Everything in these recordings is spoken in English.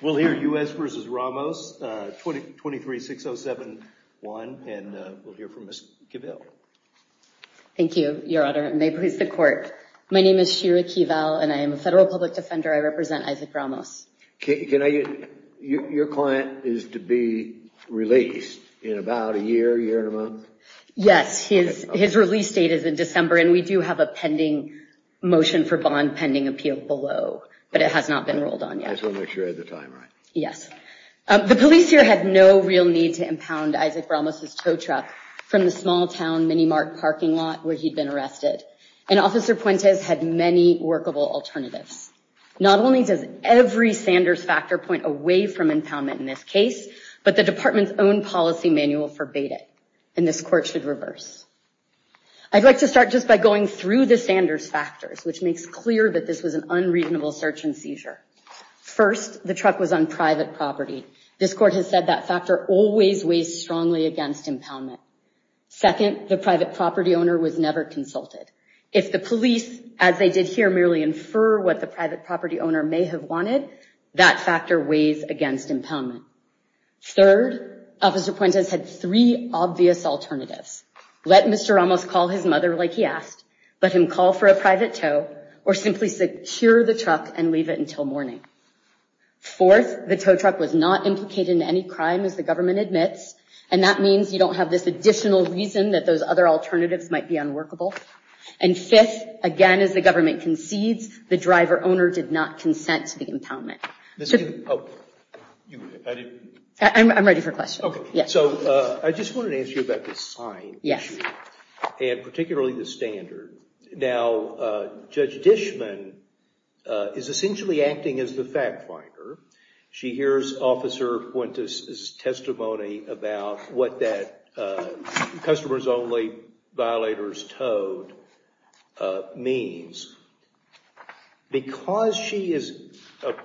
We'll hear U.S. v. Ramos, 23-607-1, and we'll hear from Ms. Kivill. Thank you, Your Honor, and may it please the Court. My name is Shira Kivill, and I am a federal public defender. I represent Isaac Ramos. Your client is to be released in about a year, year and a month? Yes, his release date is in December, and we do have a pending motion for bond pending appeal below, but it has not been rolled on yet. I just wanted to make sure I had the time right. Yes. The police here had no real need to impound Isaac Ramos's tow truck from the small-town Minimart parking lot where he'd been arrested, and Officer Puentes had many workable alternatives. Not only does every Sanders factor point away from impoundment in this case, but the Department's own policy manual forbade it, and this Court should reverse. I'd like to start just by going through the Sanders factors, which makes clear that this was an unreasonable search and seizure. First, the truck was on private property. This Court has said that factor always weighs strongly against impoundment. Second, the private property owner was never consulted. If the police, as they did here, merely infer what the private property owner may have wanted, that factor weighs against impoundment. Third, Officer Puentes had three obvious alternatives. Let Mr. Ramos call his mother like he asked, let him call for a private tow, or simply secure the truck and leave it until morning. Fourth, the tow truck was not implicated in any crime, as the government admits, and that means you don't have this additional reason that those other alternatives might be unworkable. And fifth, again, as the government concedes, the driver-owner did not consent to the impoundment. I'm ready for questions. Okay, so I just wanted to ask you about the sign issue, and particularly the standard. Now, Judge Dishman is essentially acting as the fact finder. She hears Officer Puentes' testimony about what that customer's only violators towed means. Because she is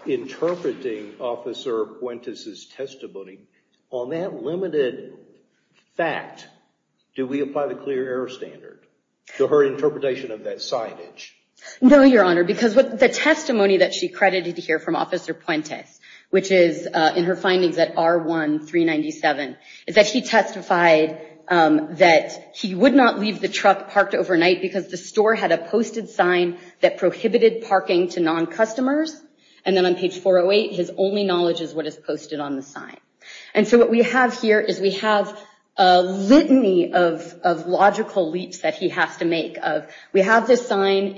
interpreting Officer Puentes' testimony, on that limited fact, do we apply the clear error standard to her interpretation of that signage? No, Your Honor, because the testimony that she credited here from Officer Puentes, which is in her findings at R1-397, is that he testified that he would not leave the truck parked overnight because the store had a posted sign that prohibited parking to non-customers. And then on page 408, his only knowledge is what is posted on the sign. And so what we have here is we have a litany of logical leaps that he has to make. We have this sign.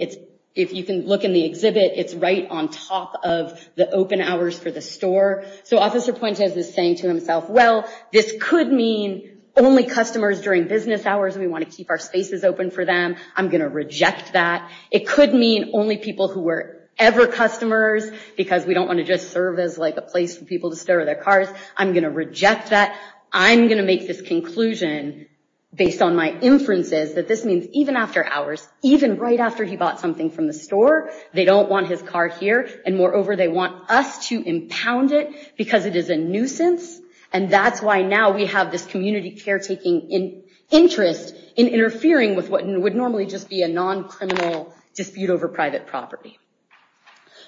If you can look in the exhibit, it's right on top of the open hours for the store. So Officer Puentes is saying to himself, well, this could mean only customers during business hours, and we want to keep our spaces open for them. I'm going to reject that. It could mean only people who were ever customers, because we don't want to just serve as a place for people to store their cars. I'm going to reject that. I'm going to make this conclusion, based on my inferences, that this means even after hours, even right after he bought something from the store, they don't want his car here. And moreover, they want us to impound it because it is a nuisance. And that's why now we have this community caretaking interest in interfering with what would normally just be a non-criminal dispute over private property.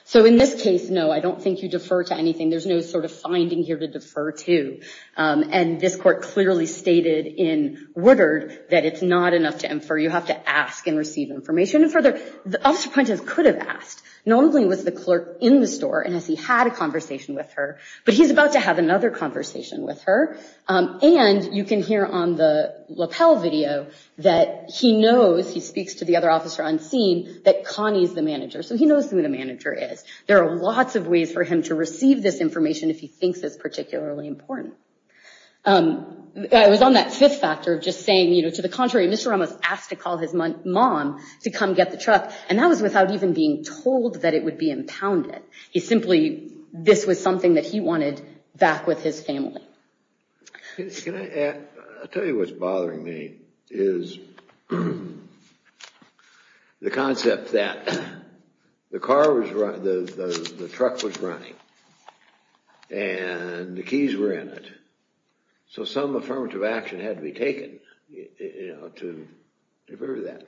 So in this case, no, I don't think you defer to anything. There's no sort of finding here to defer to. And this court clearly stated in Woodard that it's not enough to infer. You have to ask and receive information. And further, Officer Puentes could have asked. Normally, it was the clerk in the store, and he had a conversation with her. But he's about to have another conversation with her. And you can hear on the lapel video that he knows, he speaks to the other officer on scene, that Connie's the manager. So he knows who the manager is. There are lots of ways for him to receive this information if he thinks it's particularly important. I was on that fifth factor of just saying, you know, to the contrary, Mr. Ramos asked to call his mom to come get the truck, and that was without even being told that it would be impounded. He simply, this was something that he wanted back with his family. Can I add, I'll tell you what's bothering me, is the concept that the truck was running, and the keys were in it, so some affirmative action had to be taken to defer to that.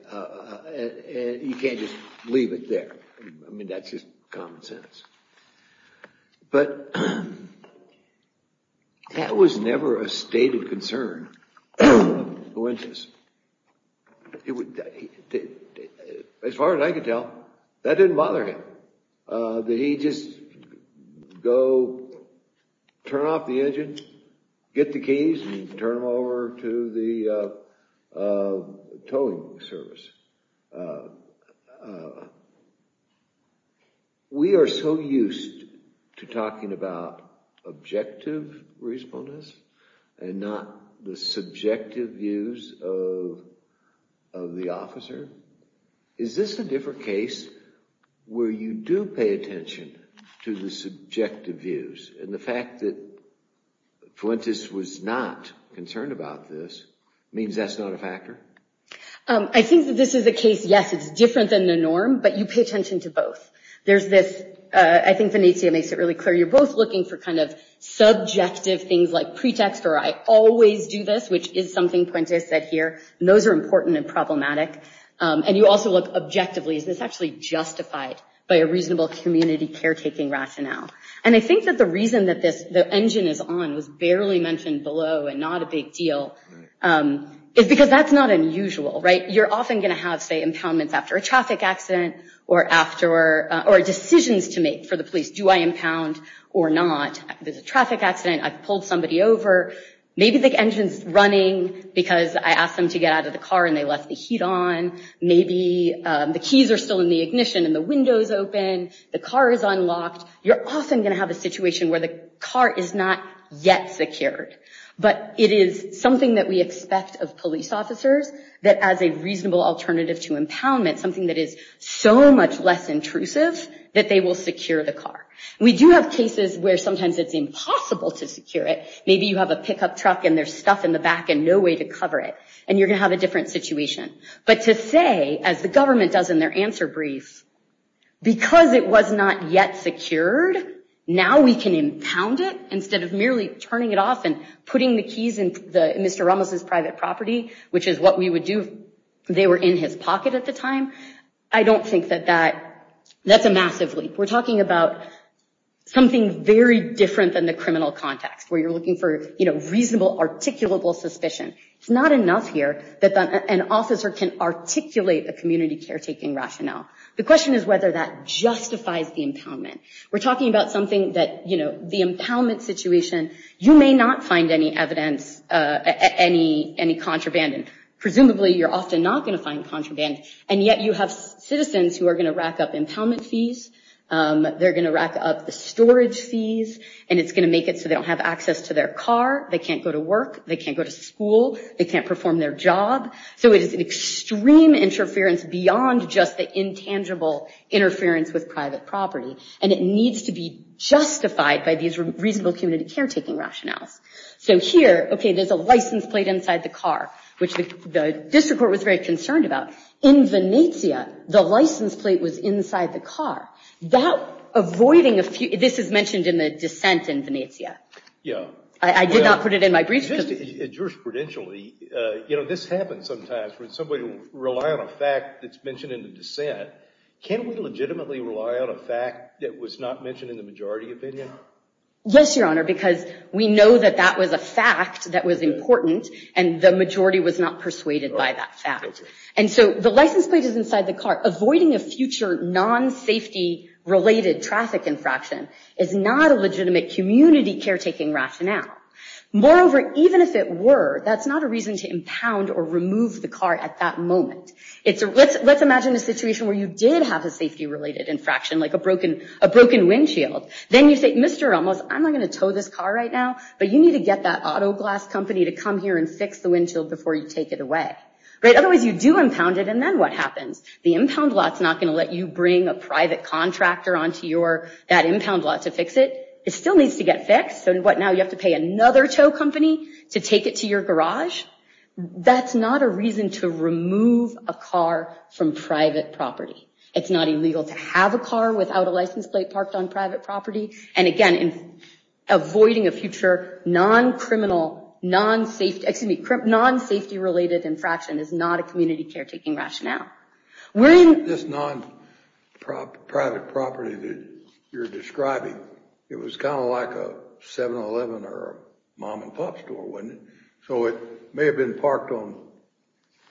And you can't just leave it there. I mean, that's just common sense. But that was never a state of concern of the Winchester's. As far as I could tell, that didn't bother him, that he'd just go turn off the engine, get the keys, and turn them over to the towing service. We are so used to talking about objective reasonableness, and not the subjective views of the officer. Is this a different case where you do pay attention to the subjective views, and the fact that Fuentes was not concerned about this, means that's not a factor? I think that this is a case, yes, it's different than the norm, but you pay attention to both. I think Vinicia makes it really clear, you're both looking for subjective things like pretext, or I always do this, which is something Fuentes said here, and those are important and problematic. And you also look objectively, is this actually justified by a reasonable community caretaking rationale? And I think that the reason that the engine is on, was barely mentioned below, and not a big deal, is because that's not unusual. You're often going to have impoundments after a traffic accident, or decisions to make for the police, do I impound or not? There's a traffic accident, I've pulled somebody over, maybe the engine's running, because I asked them to get out of the car and they left the heat on, maybe the keys are still in the ignition and the window's open, the car is unlocked, you're often going to have a situation where the car is not yet secured. But it is something that we expect of police officers, that as a reasonable alternative to impoundment, something that is so much less intrusive, that they will secure the car. We do have cases where sometimes it's impossible to secure it, maybe you have a pickup truck and there's stuff in the back and no way to cover it, and you're going to have a different situation. But to say, as the government does in their answer brief, because it was not yet secured, now we can impound it, instead of merely turning it off and putting the keys in Mr. Ramos' private property, which is what we would do if they were in his pocket at the time, I don't think that that's a massive leap. We're talking about something very different than the criminal context, where you're looking for reasonable, articulable suspicion. It's not enough here that an officer can articulate a community caretaking rationale. The question is whether that justifies the impoundment. We're talking about something that the impoundment situation, you may not find any evidence, any contraband. Presumably you're often not going to find contraband, and yet you have citizens who are going to rack up impoundment fees, they're going to rack up the storage fees, and it's going to make it so they don't have access to their car, they can't go to work, they can't go to school, they can't perform their job. So it is an extreme interference beyond just the intangible interference with private property. And it needs to be justified by these reasonable community caretaking rationales. So here, okay, there's a license plate inside the car, which the district court was very concerned about. In Venezia, the license plate was inside the car. This is mentioned in the dissent in Venezia. I did not put it in my brief. Just jurisprudentially, this happens sometimes, when somebody will rely on a fact that's mentioned in the dissent. Can we legitimately rely on a fact that was not mentioned in the majority opinion? Yes, Your Honor, because we know that that was a fact that was important, and the majority was not persuaded by that fact. And so the license plate is inside the car. Avoiding a future non-safety-related traffic infraction is not a legitimate community caretaking rationale. Moreover, even if it were, let's imagine a situation where you did have a safety-related infraction, like a broken windshield. Then you say, Mr. Ramos, I'm not going to tow this car right now, but you need to get that auto glass company to come here and fix the windshield before you take it away. Otherwise, you do impound it, and then what happens? The impound lot's not going to let you bring a private contractor onto that impound lot to fix it. It still needs to get fixed. So what, now you have to pay another tow company to take it to your garage? That's not a reason to remove a car from private property. It's not illegal to have a car without a license plate parked on private property. And again, avoiding a future non-safety-related infraction is not a community caretaking rationale. This non-private property that you're describing, it was kind of like a 7-Eleven or a mom-and-pop store, wasn't it? So it may have been parked on,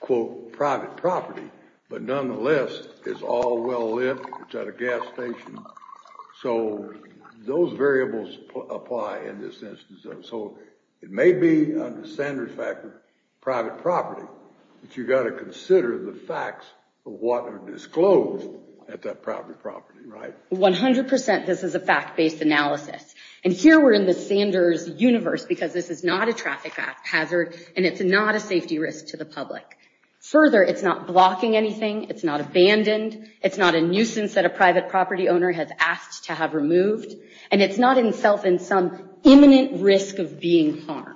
quote, private property, but nonetheless, it's all well lit. It's at a gas station. So those variables apply in this instance. So it may be, under the Sanders factor, private property, but you've got to consider the facts of what are disclosed at that private property, right? 100% this is a fact-based analysis. And here we're in the Sanders universe because this is not a traffic hazard, and it's not a safety risk to the public. Further, it's not blocking anything. It's not abandoned. It's not a nuisance that a private property owner has asked to have removed. And it's not itself in some imminent risk of being harmed.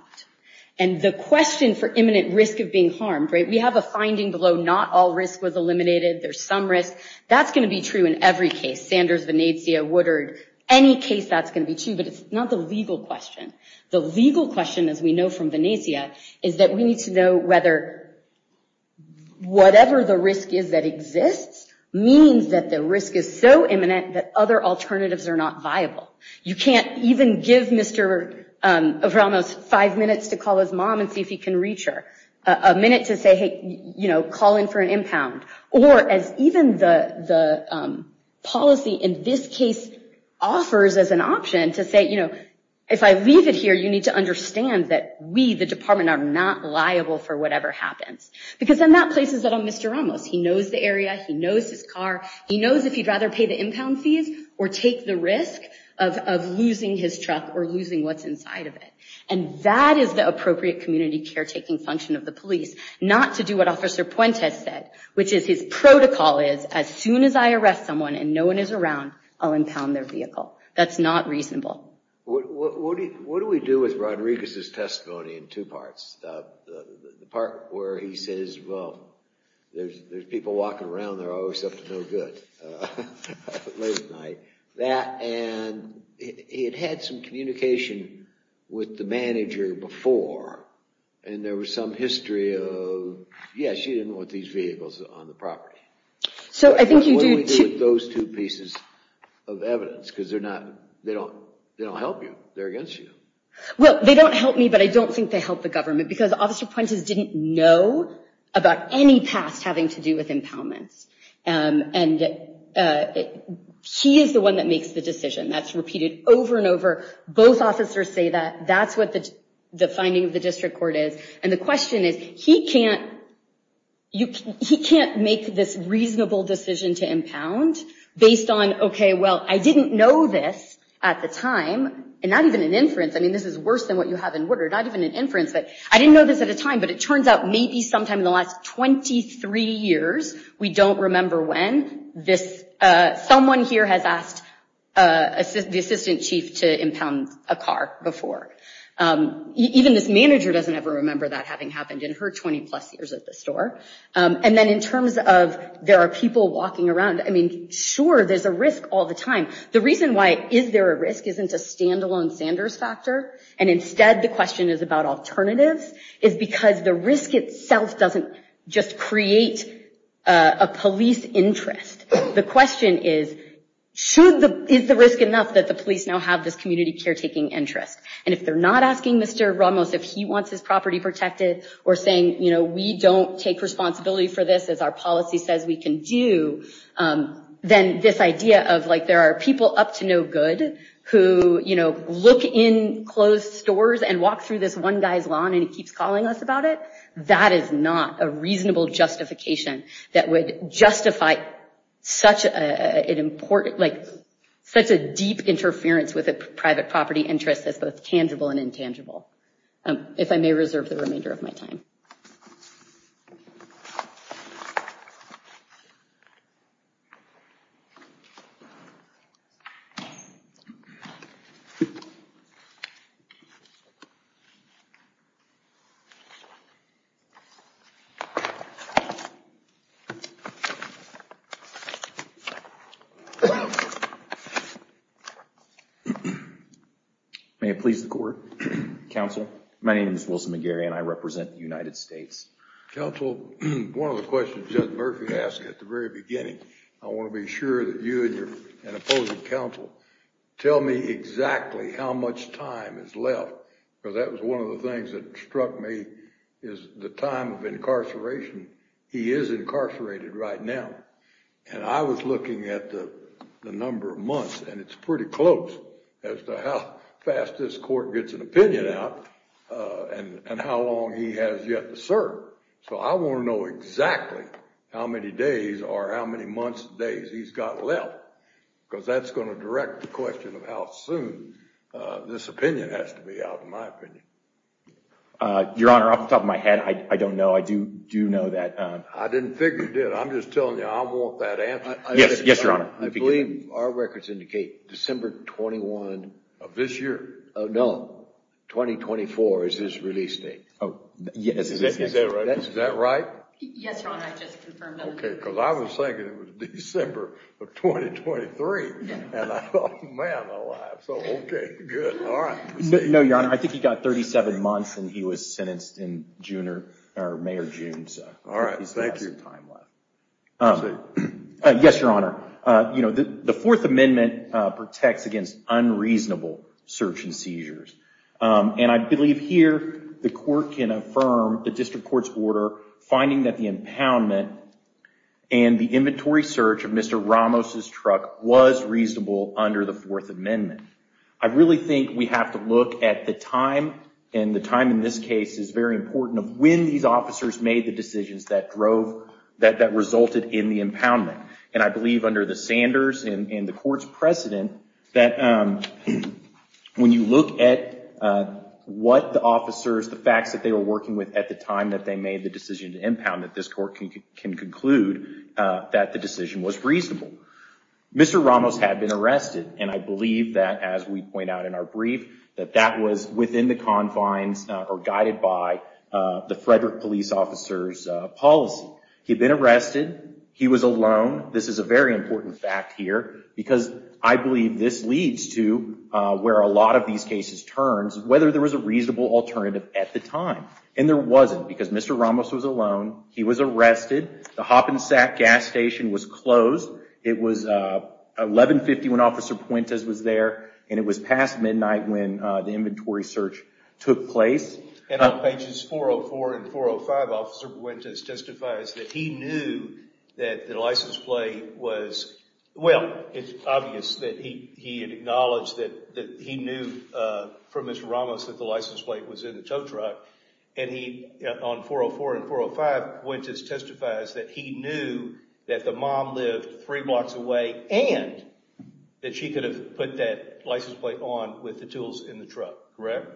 And the question for imminent risk of being harmed, right, we have a finding below not all risk was eliminated. There's some risk. That's going to be true in every case. Sanders, Venezia, Woodard, any case that's going to be true, but it's not the legal question. The legal question, as we know from Venezia, is that we need to know whether whatever the risk is that exists means that the risk is so imminent that other alternatives are not viable. You can't even give Mr. Abramos five minutes to call his mom and see if he can reach her. A minute to say, hey, call in for an impound. Or as even the policy in this case offers as an option to say, you know, if I leave it here, you need to understand that we, the department, are not liable for whatever happens. Because then that places it on Mr. Abramos. He knows the area. He knows his car. He knows if he'd rather pay the impound fees or take the risk of losing his truck or losing what's inside of it. And that is the appropriate community caretaking function of the police, not to do what Officer Puente has said, which is his protocol is as soon as I arrest someone and no one is around, I'll impound their vehicle. That's not reasonable. What do we do with Rodriguez's testimony in two parts? The part where he says, well, there's people walking around. They're always up to no good late at night. And he had had some communication with the manager before, and there was some history of, yeah, she didn't want these vehicles on the property. What do we do with those two pieces of evidence? Because they don't help you. They're against you. Well, they don't help me, but I don't think they help the government because Officer Puentes didn't know about any past having to do with impoundments. And he is the one that makes the decision. That's repeated over and over. Both officers say that that's what the finding of the district court is. And the question is, he can't make this reasonable decision to impound based on, okay, well, I didn't know this at the time. And not even an inference. I mean, this is worse than what you have in order. Not even an inference. I didn't know this at a time, but it turns out maybe sometime in the last 23 years. We don't remember when. Someone here has asked the assistant chief to impound a car before. Even this manager doesn't ever remember that having happened in her 20 plus years at the store. And then in terms of there are people walking around. I mean, sure, there's a risk all the time. The reason why is there a risk isn't a standalone Sanders factor. And instead the question is about alternatives. The risk itself doesn't just create a police interest. The question is, is the risk enough that the police now have this community caretaking interest? And if they're not asking Mr. Ramos if he wants his property protected or saying, you know, we don't take responsibility for this as our policy says we can do, then this idea of like there are people up to no good who, you know, look in closed stores and walk through this one guy's lawn and he keeps calling us about it. That is not a reasonable justification that would justify such an important, like such a deep interference with a private property interest that's both tangible and intangible. If I may reserve the remainder of my time. Thank you. May it please the court. Counsel. My name is Wilson McGarry and I represent the United States. Counsel. One of the questions that Murphy asked at the very beginning, I want to be sure that you and your, and opposing counsel tell me exactly how much time is left. Because that was one of the things that struck me is the time of incarceration. He is incarcerated right now. And I was looking at the number of months and it's pretty close as to how fast this court gets an opinion out and how long he has yet to serve. So I want to know exactly how many days or how many months days he's got left. Because that's going to direct the question of how soon this opinion has to be out in my opinion. Your Honor, off the top of my head, I don't know. I do know that. I didn't figure it did. I'm just telling you I want that answer. Yes. Yes, Your Honor. I believe our records indicate December 21 of this year. No. 2024 is his release date. Oh, yes. Is that right? Yes, Your Honor. I just confirmed that. OK. Because I was thinking it was December of 2023. And I thought, man, my life. So OK. Good. All right. No, Your Honor. I think he got 37 months and he was sentenced in May or June. All right. Thank you. Yes, Your Honor. The Fourth Amendment protects against unreasonable search and seizures. And I believe here the court can affirm the district court's order finding that the impoundment and the inventory search of Mr. Ramos's truck was reasonable under the Fourth Amendment. I really think we have to look at the time. And the time in this case is very important of when these officers made the decisions that resulted in the impoundment. And I believe under the Sanders and the court's precedent that when you look at what the officers, the facts that they were working with at the time that they made the decision to impound that this court can conclude that the decision was reasonable. Mr. Ramos had been arrested. And I believe that, as we point out in our brief, that that was within the confines or guided by the Frederick police officer's policy. He had been arrested. He was alone. This is a very important fact here because I believe this leads to where a lot of these cases turns whether there was a reasonable alternative at the time. There wasn't because Mr. Ramos was alone. He was arrested. The Hop and Sack gas station was closed. It was 1150 when Officer Puentes was there. And it was past midnight when the inventory search took place. And on pages 404 and 405, Officer Puentes testifies that he knew that the license plate was, well, it's obvious that he had acknowledged that he knew from Mr. Ramos that the license plate was in the tow truck. And on 404 and 405, Puentes testifies that he knew that the mom lived three blocks away and that she could have put that license plate on with the tools in the truck. Correct?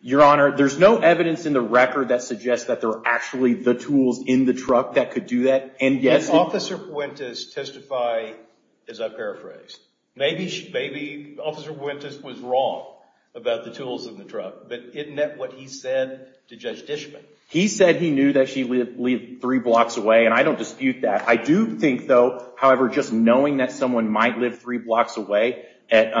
Your Honor, there's no evidence in the record that suggests that there were actually the tools in the truck that could do that. And yes, Officer Puentes testified, as I paraphrased. Maybe Officer Puentes was wrong about the tools in the truck. But isn't that what he said to Judge Dishman? He said he knew that she lived three blocks away, and I don't dispute that. I do think, though, however, just knowing that someone might live three blocks away at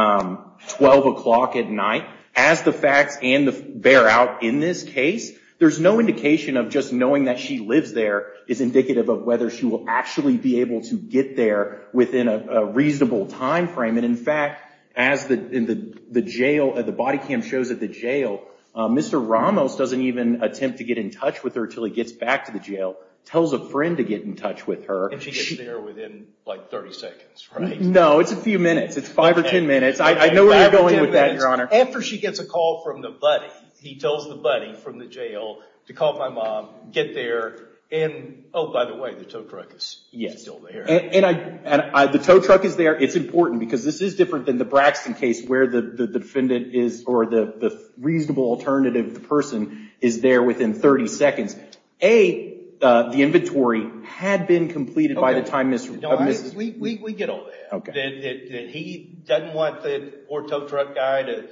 12 o'clock at night, as the facts bear out in this case, there's no indication of just knowing that she lives there is indicative of whether she will actually be able to get there within a reasonable time frame. And in fact, as the body cam shows at the jail, Mr. Ramos doesn't even attempt to get in touch with her until he gets back to the jail. Tells a friend to get in touch with her. And she gets there within, like, 30 seconds, right? No, it's a few minutes. It's 5 or 10 minutes. I know where you're going with that, Your Honor. After she gets a call from the buddy, he tells the buddy from the jail to call my mom, get there, and, oh, by the way, the tow truck is still there. The tow truck is there. It's important, because this is different than the Braxton case, where the defendant is, or the reasonable alternative person, is there within 30 seconds. A, the inventory had been completed by the time Mrs. We get all that. He doesn't want the poor tow truck guy to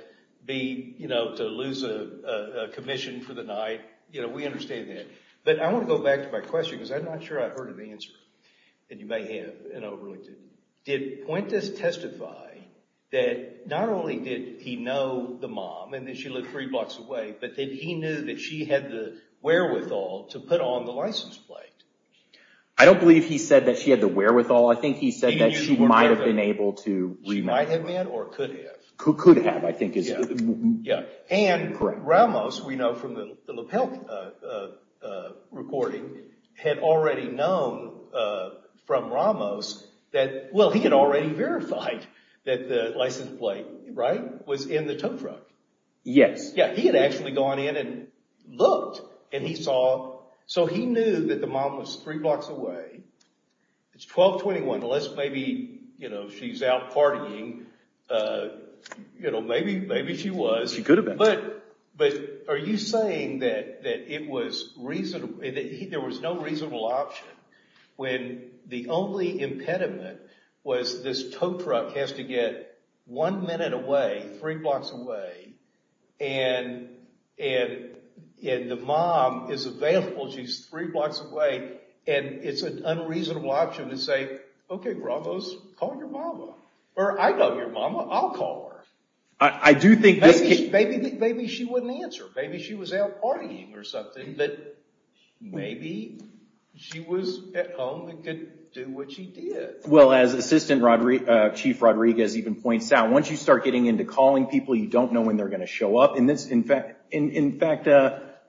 lose a commission for the night. We understand that. But I want to go back to my question, because I'm not sure I've heard of the answer, and you may have, and I really didn't. Did Puentes testify that not only did he know the mom, and that she lived three blocks away, but that he knew that she had the wherewithal to put on the license plate? I don't believe he said that she had the wherewithal. I think he said that she might have been able to remit. She might have met or could have. Could have, I think, is correct. And Ramos, we know from the lapel recording, had already known from Ramos that, well, he had already verified that the license plate was in the tow truck. Yes. Yeah, he had actually gone in and looked, and he saw. So he knew that the mom was three blocks away. It's 12-21. Unless maybe she's out partying, maybe she was. But are you saying that there was no reasonable option when the only impediment was this tow truck has to get one minute away, three blocks away, and the mom is available, she's three blocks away, and it's an unreasonable option to say, okay, Ramos, call your mama. Or I know your mama. I'll call her. Maybe she wouldn't answer. Maybe she was out partying or something. But maybe she was at home and could do what she did. Well, as Assistant Chief Rodriguez even points out, once you start getting into calling people, you don't know when they're going to show up. In fact,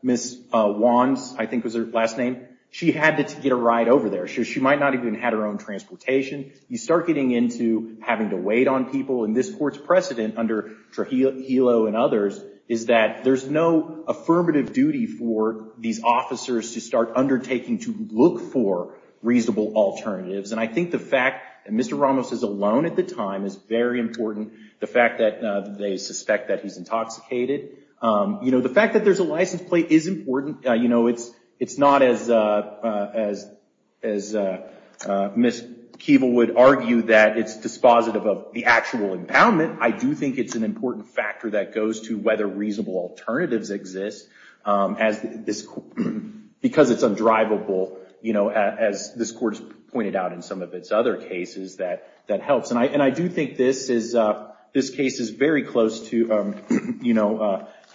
Ms. Wands, I think was her last name, she had to get a ride over there. She might not have even had her own transportation. You start getting into having to wait on people. And this Court's precedent under Trujillo and others is that there's no affirmative duty for these officers to start undertaking to look for reasonable alternatives. And I think the fact that Mr. Ramos is alone at the time is very important. The fact that they suspect that he's intoxicated. The fact that there's a license plate is important. It's not as Ms. Keeble would argue that it's dispositive of the actual impoundment. I do think it's an important factor that goes to whether reasonable alternatives exist, because it's undrivable, as this Court's pointed out in some of its other cases, that helps. And I do think this case is very close to,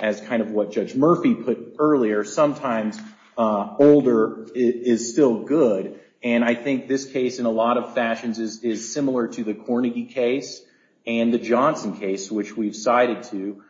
as kind of what Judge Murphy put earlier, sometimes older is still good. And I think this case, in a lot of fashions, is similar to the Cornegie case and the Johnson case, which we've cited to.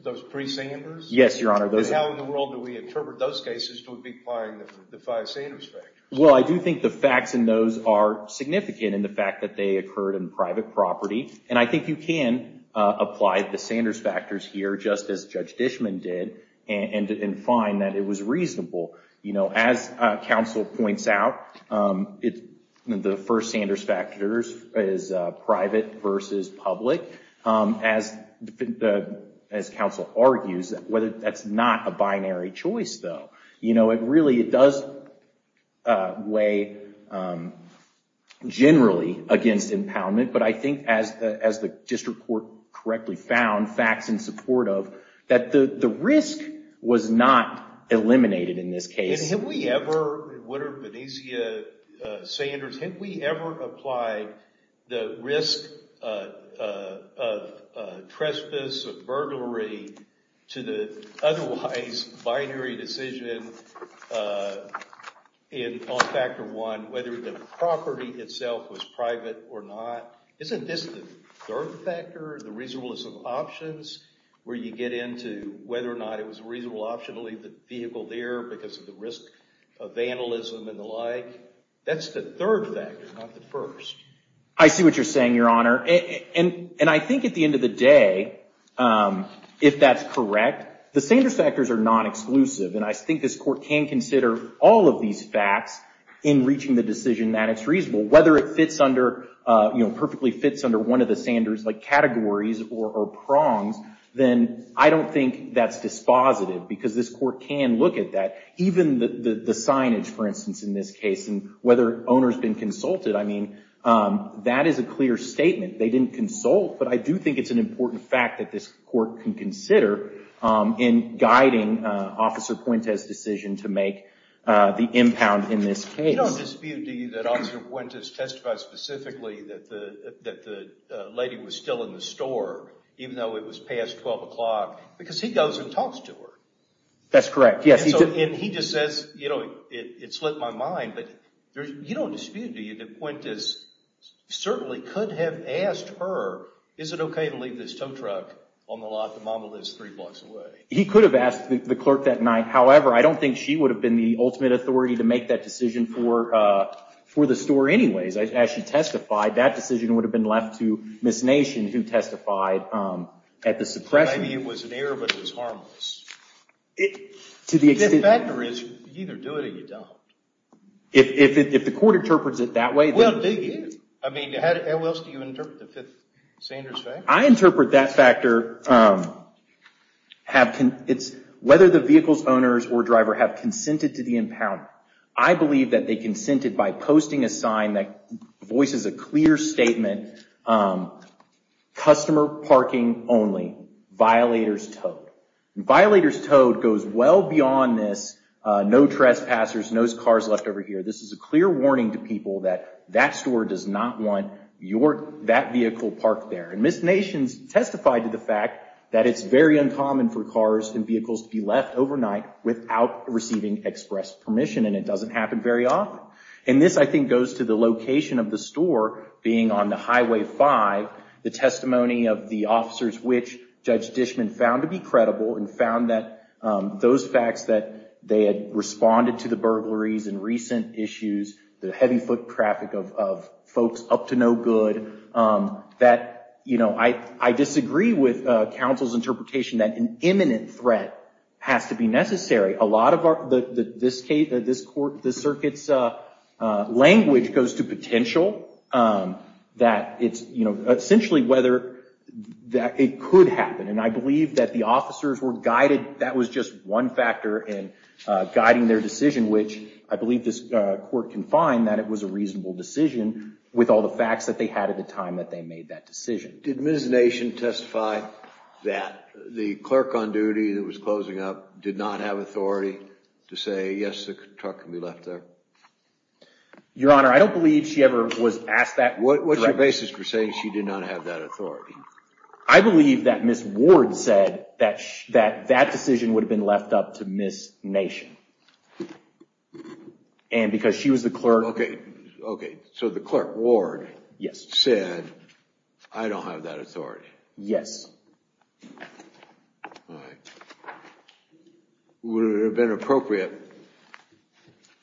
Those three Sanders? Yes, Your Honor. How in the world do we interpret those cases to be applying the five Sanders factors? Well, I do think the facts in those are significant in the fact that they occurred in private property. And I think you can apply the Sanders factors here, just as Judge Dishman did, and find that it was reasonable. You know, as counsel points out, the first Sanders factor is private versus public. As counsel argues, that's not a binary choice, though. You know, it really does weigh generally against impoundment. But I think as the district court correctly found facts in support of, that the risk was not eliminated in this case. And have we ever, and what are Benicia Sanders, have we ever applied the risk of trespass or burglary to the otherwise binary decision on factor one, whether the property itself was private or not? Isn't this the third factor, the reasonableness of options, where you get into whether or not it was a reasonable option to leave the vehicle there because of the risk of vandalism and the like? That's the third factor, not the first. I see what you're saying, Your Honor. And I think at the end of the day, if that's correct, the Sanders factors are non-exclusive. And I think this court can consider all of these facts in reaching the decision that it's reasonable. Whether it fits under, you know, perfectly fits under one of the Sanders factors, like categories or prongs, then I don't think that's dispositive because this court can look at that. Even the signage, for instance, in this case and whether owner's been consulted. I mean, that is a clear statement. They didn't consult. But I do think it's an important fact that this court can consider in guiding Officer Puente's decision to make the impound in this case. You don't dispute, do you, that Officer Puente testified specifically that the lady was still in the store even though it was past 12 o'clock because he goes and talks to her? That's correct, yes. And he just says, you know, it slipped my mind. But you don't dispute, do you, that Puente certainly could have asked her, is it okay to leave this tow truck on the lot to Mama Liz three blocks away? He could have asked the clerk that night. However, I don't think she would have been the ultimate authority to make that decision for the store anyways. As she testified, that decision would have been left to Miss Nation, who testified at the suppression. Maybe it was an error, but it was harmless. The factor is, you either do it or you don't. If the court interprets it that way, then it is. Well, do you. I mean, how else do you interpret the Fifth Sanders factor? I interpret that factor, whether the vehicle's owner or driver have I believe that they consented by posting a sign that voices a clear statement, customer parking only, violators towed. And violators towed goes well beyond this, no trespassers, no cars left over here. This is a clear warning to people that that store does not want that vehicle parked there. And Miss Nation testified to the fact that it's very uncommon for cars and vehicles to be left overnight without receiving express permission. And it doesn't happen very often. And this, I think, goes to the location of the store, being on the Highway 5, the testimony of the officers which Judge Dishman found to be credible and found that those facts that they had responded to the burglaries and recent issues, the heavy foot traffic of folks up to no good, that, you know, I disagree with counsel's interpretation that an imminent threat has to be necessary. A lot of this court, this circuit's language goes to potential that it's, you know, essentially whether it could happen. And I believe that the officers were guided, that was just one factor in guiding their decision, which I believe this court can find that it was a reasonable decision with all the facts that they had at the time that they made that decision. Did Miss Nation testify that the clerk on duty that was closing up did not have authority to say, yes, the truck can be left there? Your Honor, I don't believe she ever was asked that question. What's your basis for saying she did not have that authority? I believe that Miss Ward said that that decision would have been left up to Miss Nation. And because she was the clerk. Okay, so the clerk, Ward, said, I don't have that authority. Yes. All right. Would it have been appropriate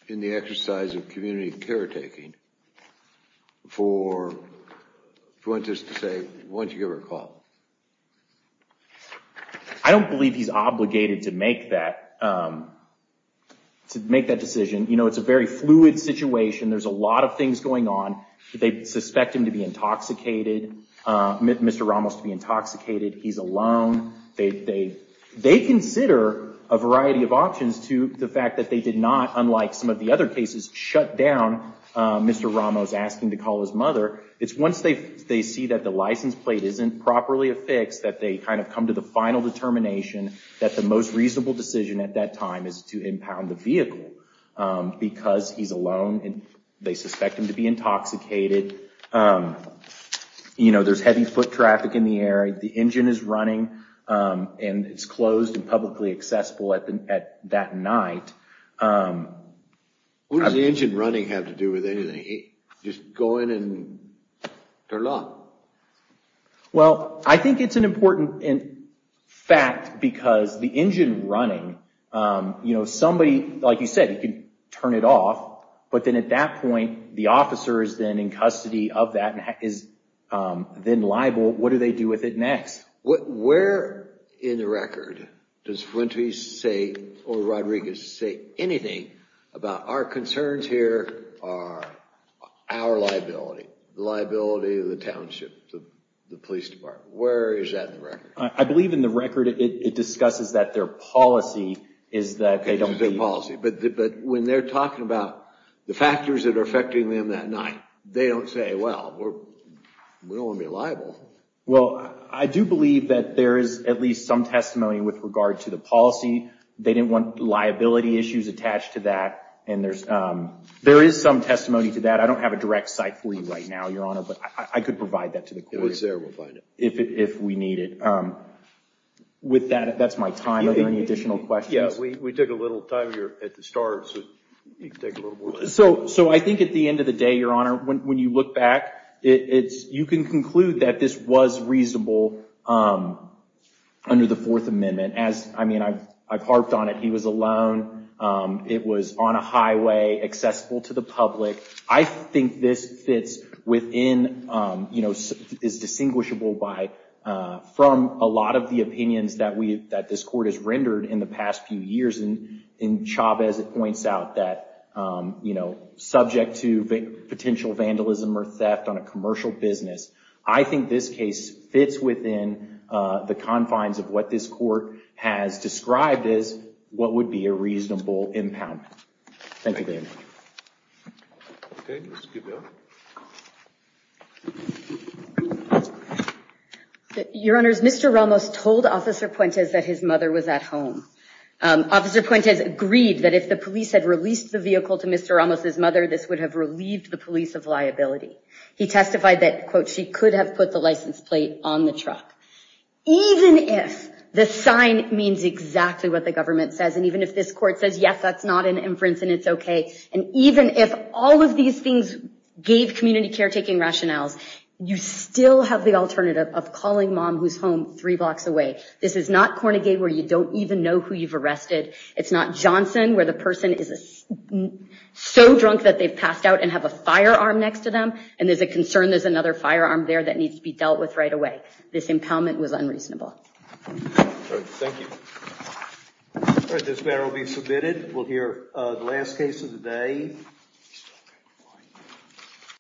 in the exercise of community caretaking for, if you want to just say, why don't you give her a call? I don't believe he's obligated to make that, to make that decision. You know, it's a very fluid situation. There's a lot of things going on that they suspect him to be intoxicated, Mr. Ramos to be intoxicated. He's alone. They consider a variety of options to the fact that they did not, unlike some of the other cases, shut down Mr. Ramos asking to call his mother. It's once they see that the license plate isn't properly affixed that they kind of come to the final determination that the most reasonable decision at that time is to impound the vehicle because he's alone and they suspect him to be intoxicated. There's heavy foot traffic in the area. The engine is running and it's closed and publicly accessible at that night. What does the engine running have to do with anything? Just go in and turn it off? Well, I think it's an important fact because the engine running, you know, somebody, like you said, you can turn it off. But then at that point, the officer is then in custody of that and is then liable. What do they do with it next? Where in the record does Fuentes say or Rodriguez say anything about our concerns here are our liability, the liability of the township, the police department? Where is that in the record? I believe in the record it discusses that their policy is that they don't believe. Their policy. But when they're talking about the factors that are affecting them that night, they don't say, well, we don't want to be liable. Well, I do believe that there is at least some testimony with regard to the policy. They didn't want liability issues attached to that. And there is some testimony to that. I don't have a direct site for you right now, Your Honor, but I could provide that to the court. If it's there, we'll find it. If we need it. With that, that's my time. Are there any additional questions? Yeah, we took a little time here at the start, so you can take a little more time. So I think at the end of the day, Your Honor, when you look back, you can conclude that this was reasonable under the Fourth Amendment. I mean, I've harped on it. He was alone. It was on a highway, accessible to the public. I think this is distinguishable from a lot of the opinions that this court has rendered in the past few years. And Chavez points out that subject to potential vandalism or theft on a commercial business, I think this case fits within the confines of what this court has described as what would be a reasonable impoundment. Thank you very much. Okay, let's give the honor. Your Honors, Mr. Ramos told Officer Puentes that his mother was at home. Officer Puentes agreed that if the police had released the vehicle to Mr. Ramos' mother, this would have relieved the police of liability. He testified that, quote, she could have put the license plate on the truck. Even if the sign means exactly what the government says, and even if this all of these things gave community caretaking rationales, you still have the alternative of calling mom who's home three blocks away. This is not Cornegay where you don't even know who you've arrested. It's not Johnson where the person is so drunk that they've passed out and have a firearm next to them, and there's a concern there's another firearm there that needs to be dealt with right away. This impoundment was unreasonable. Thank you. All right, this matter will be submitted. We'll hear the last case of the day.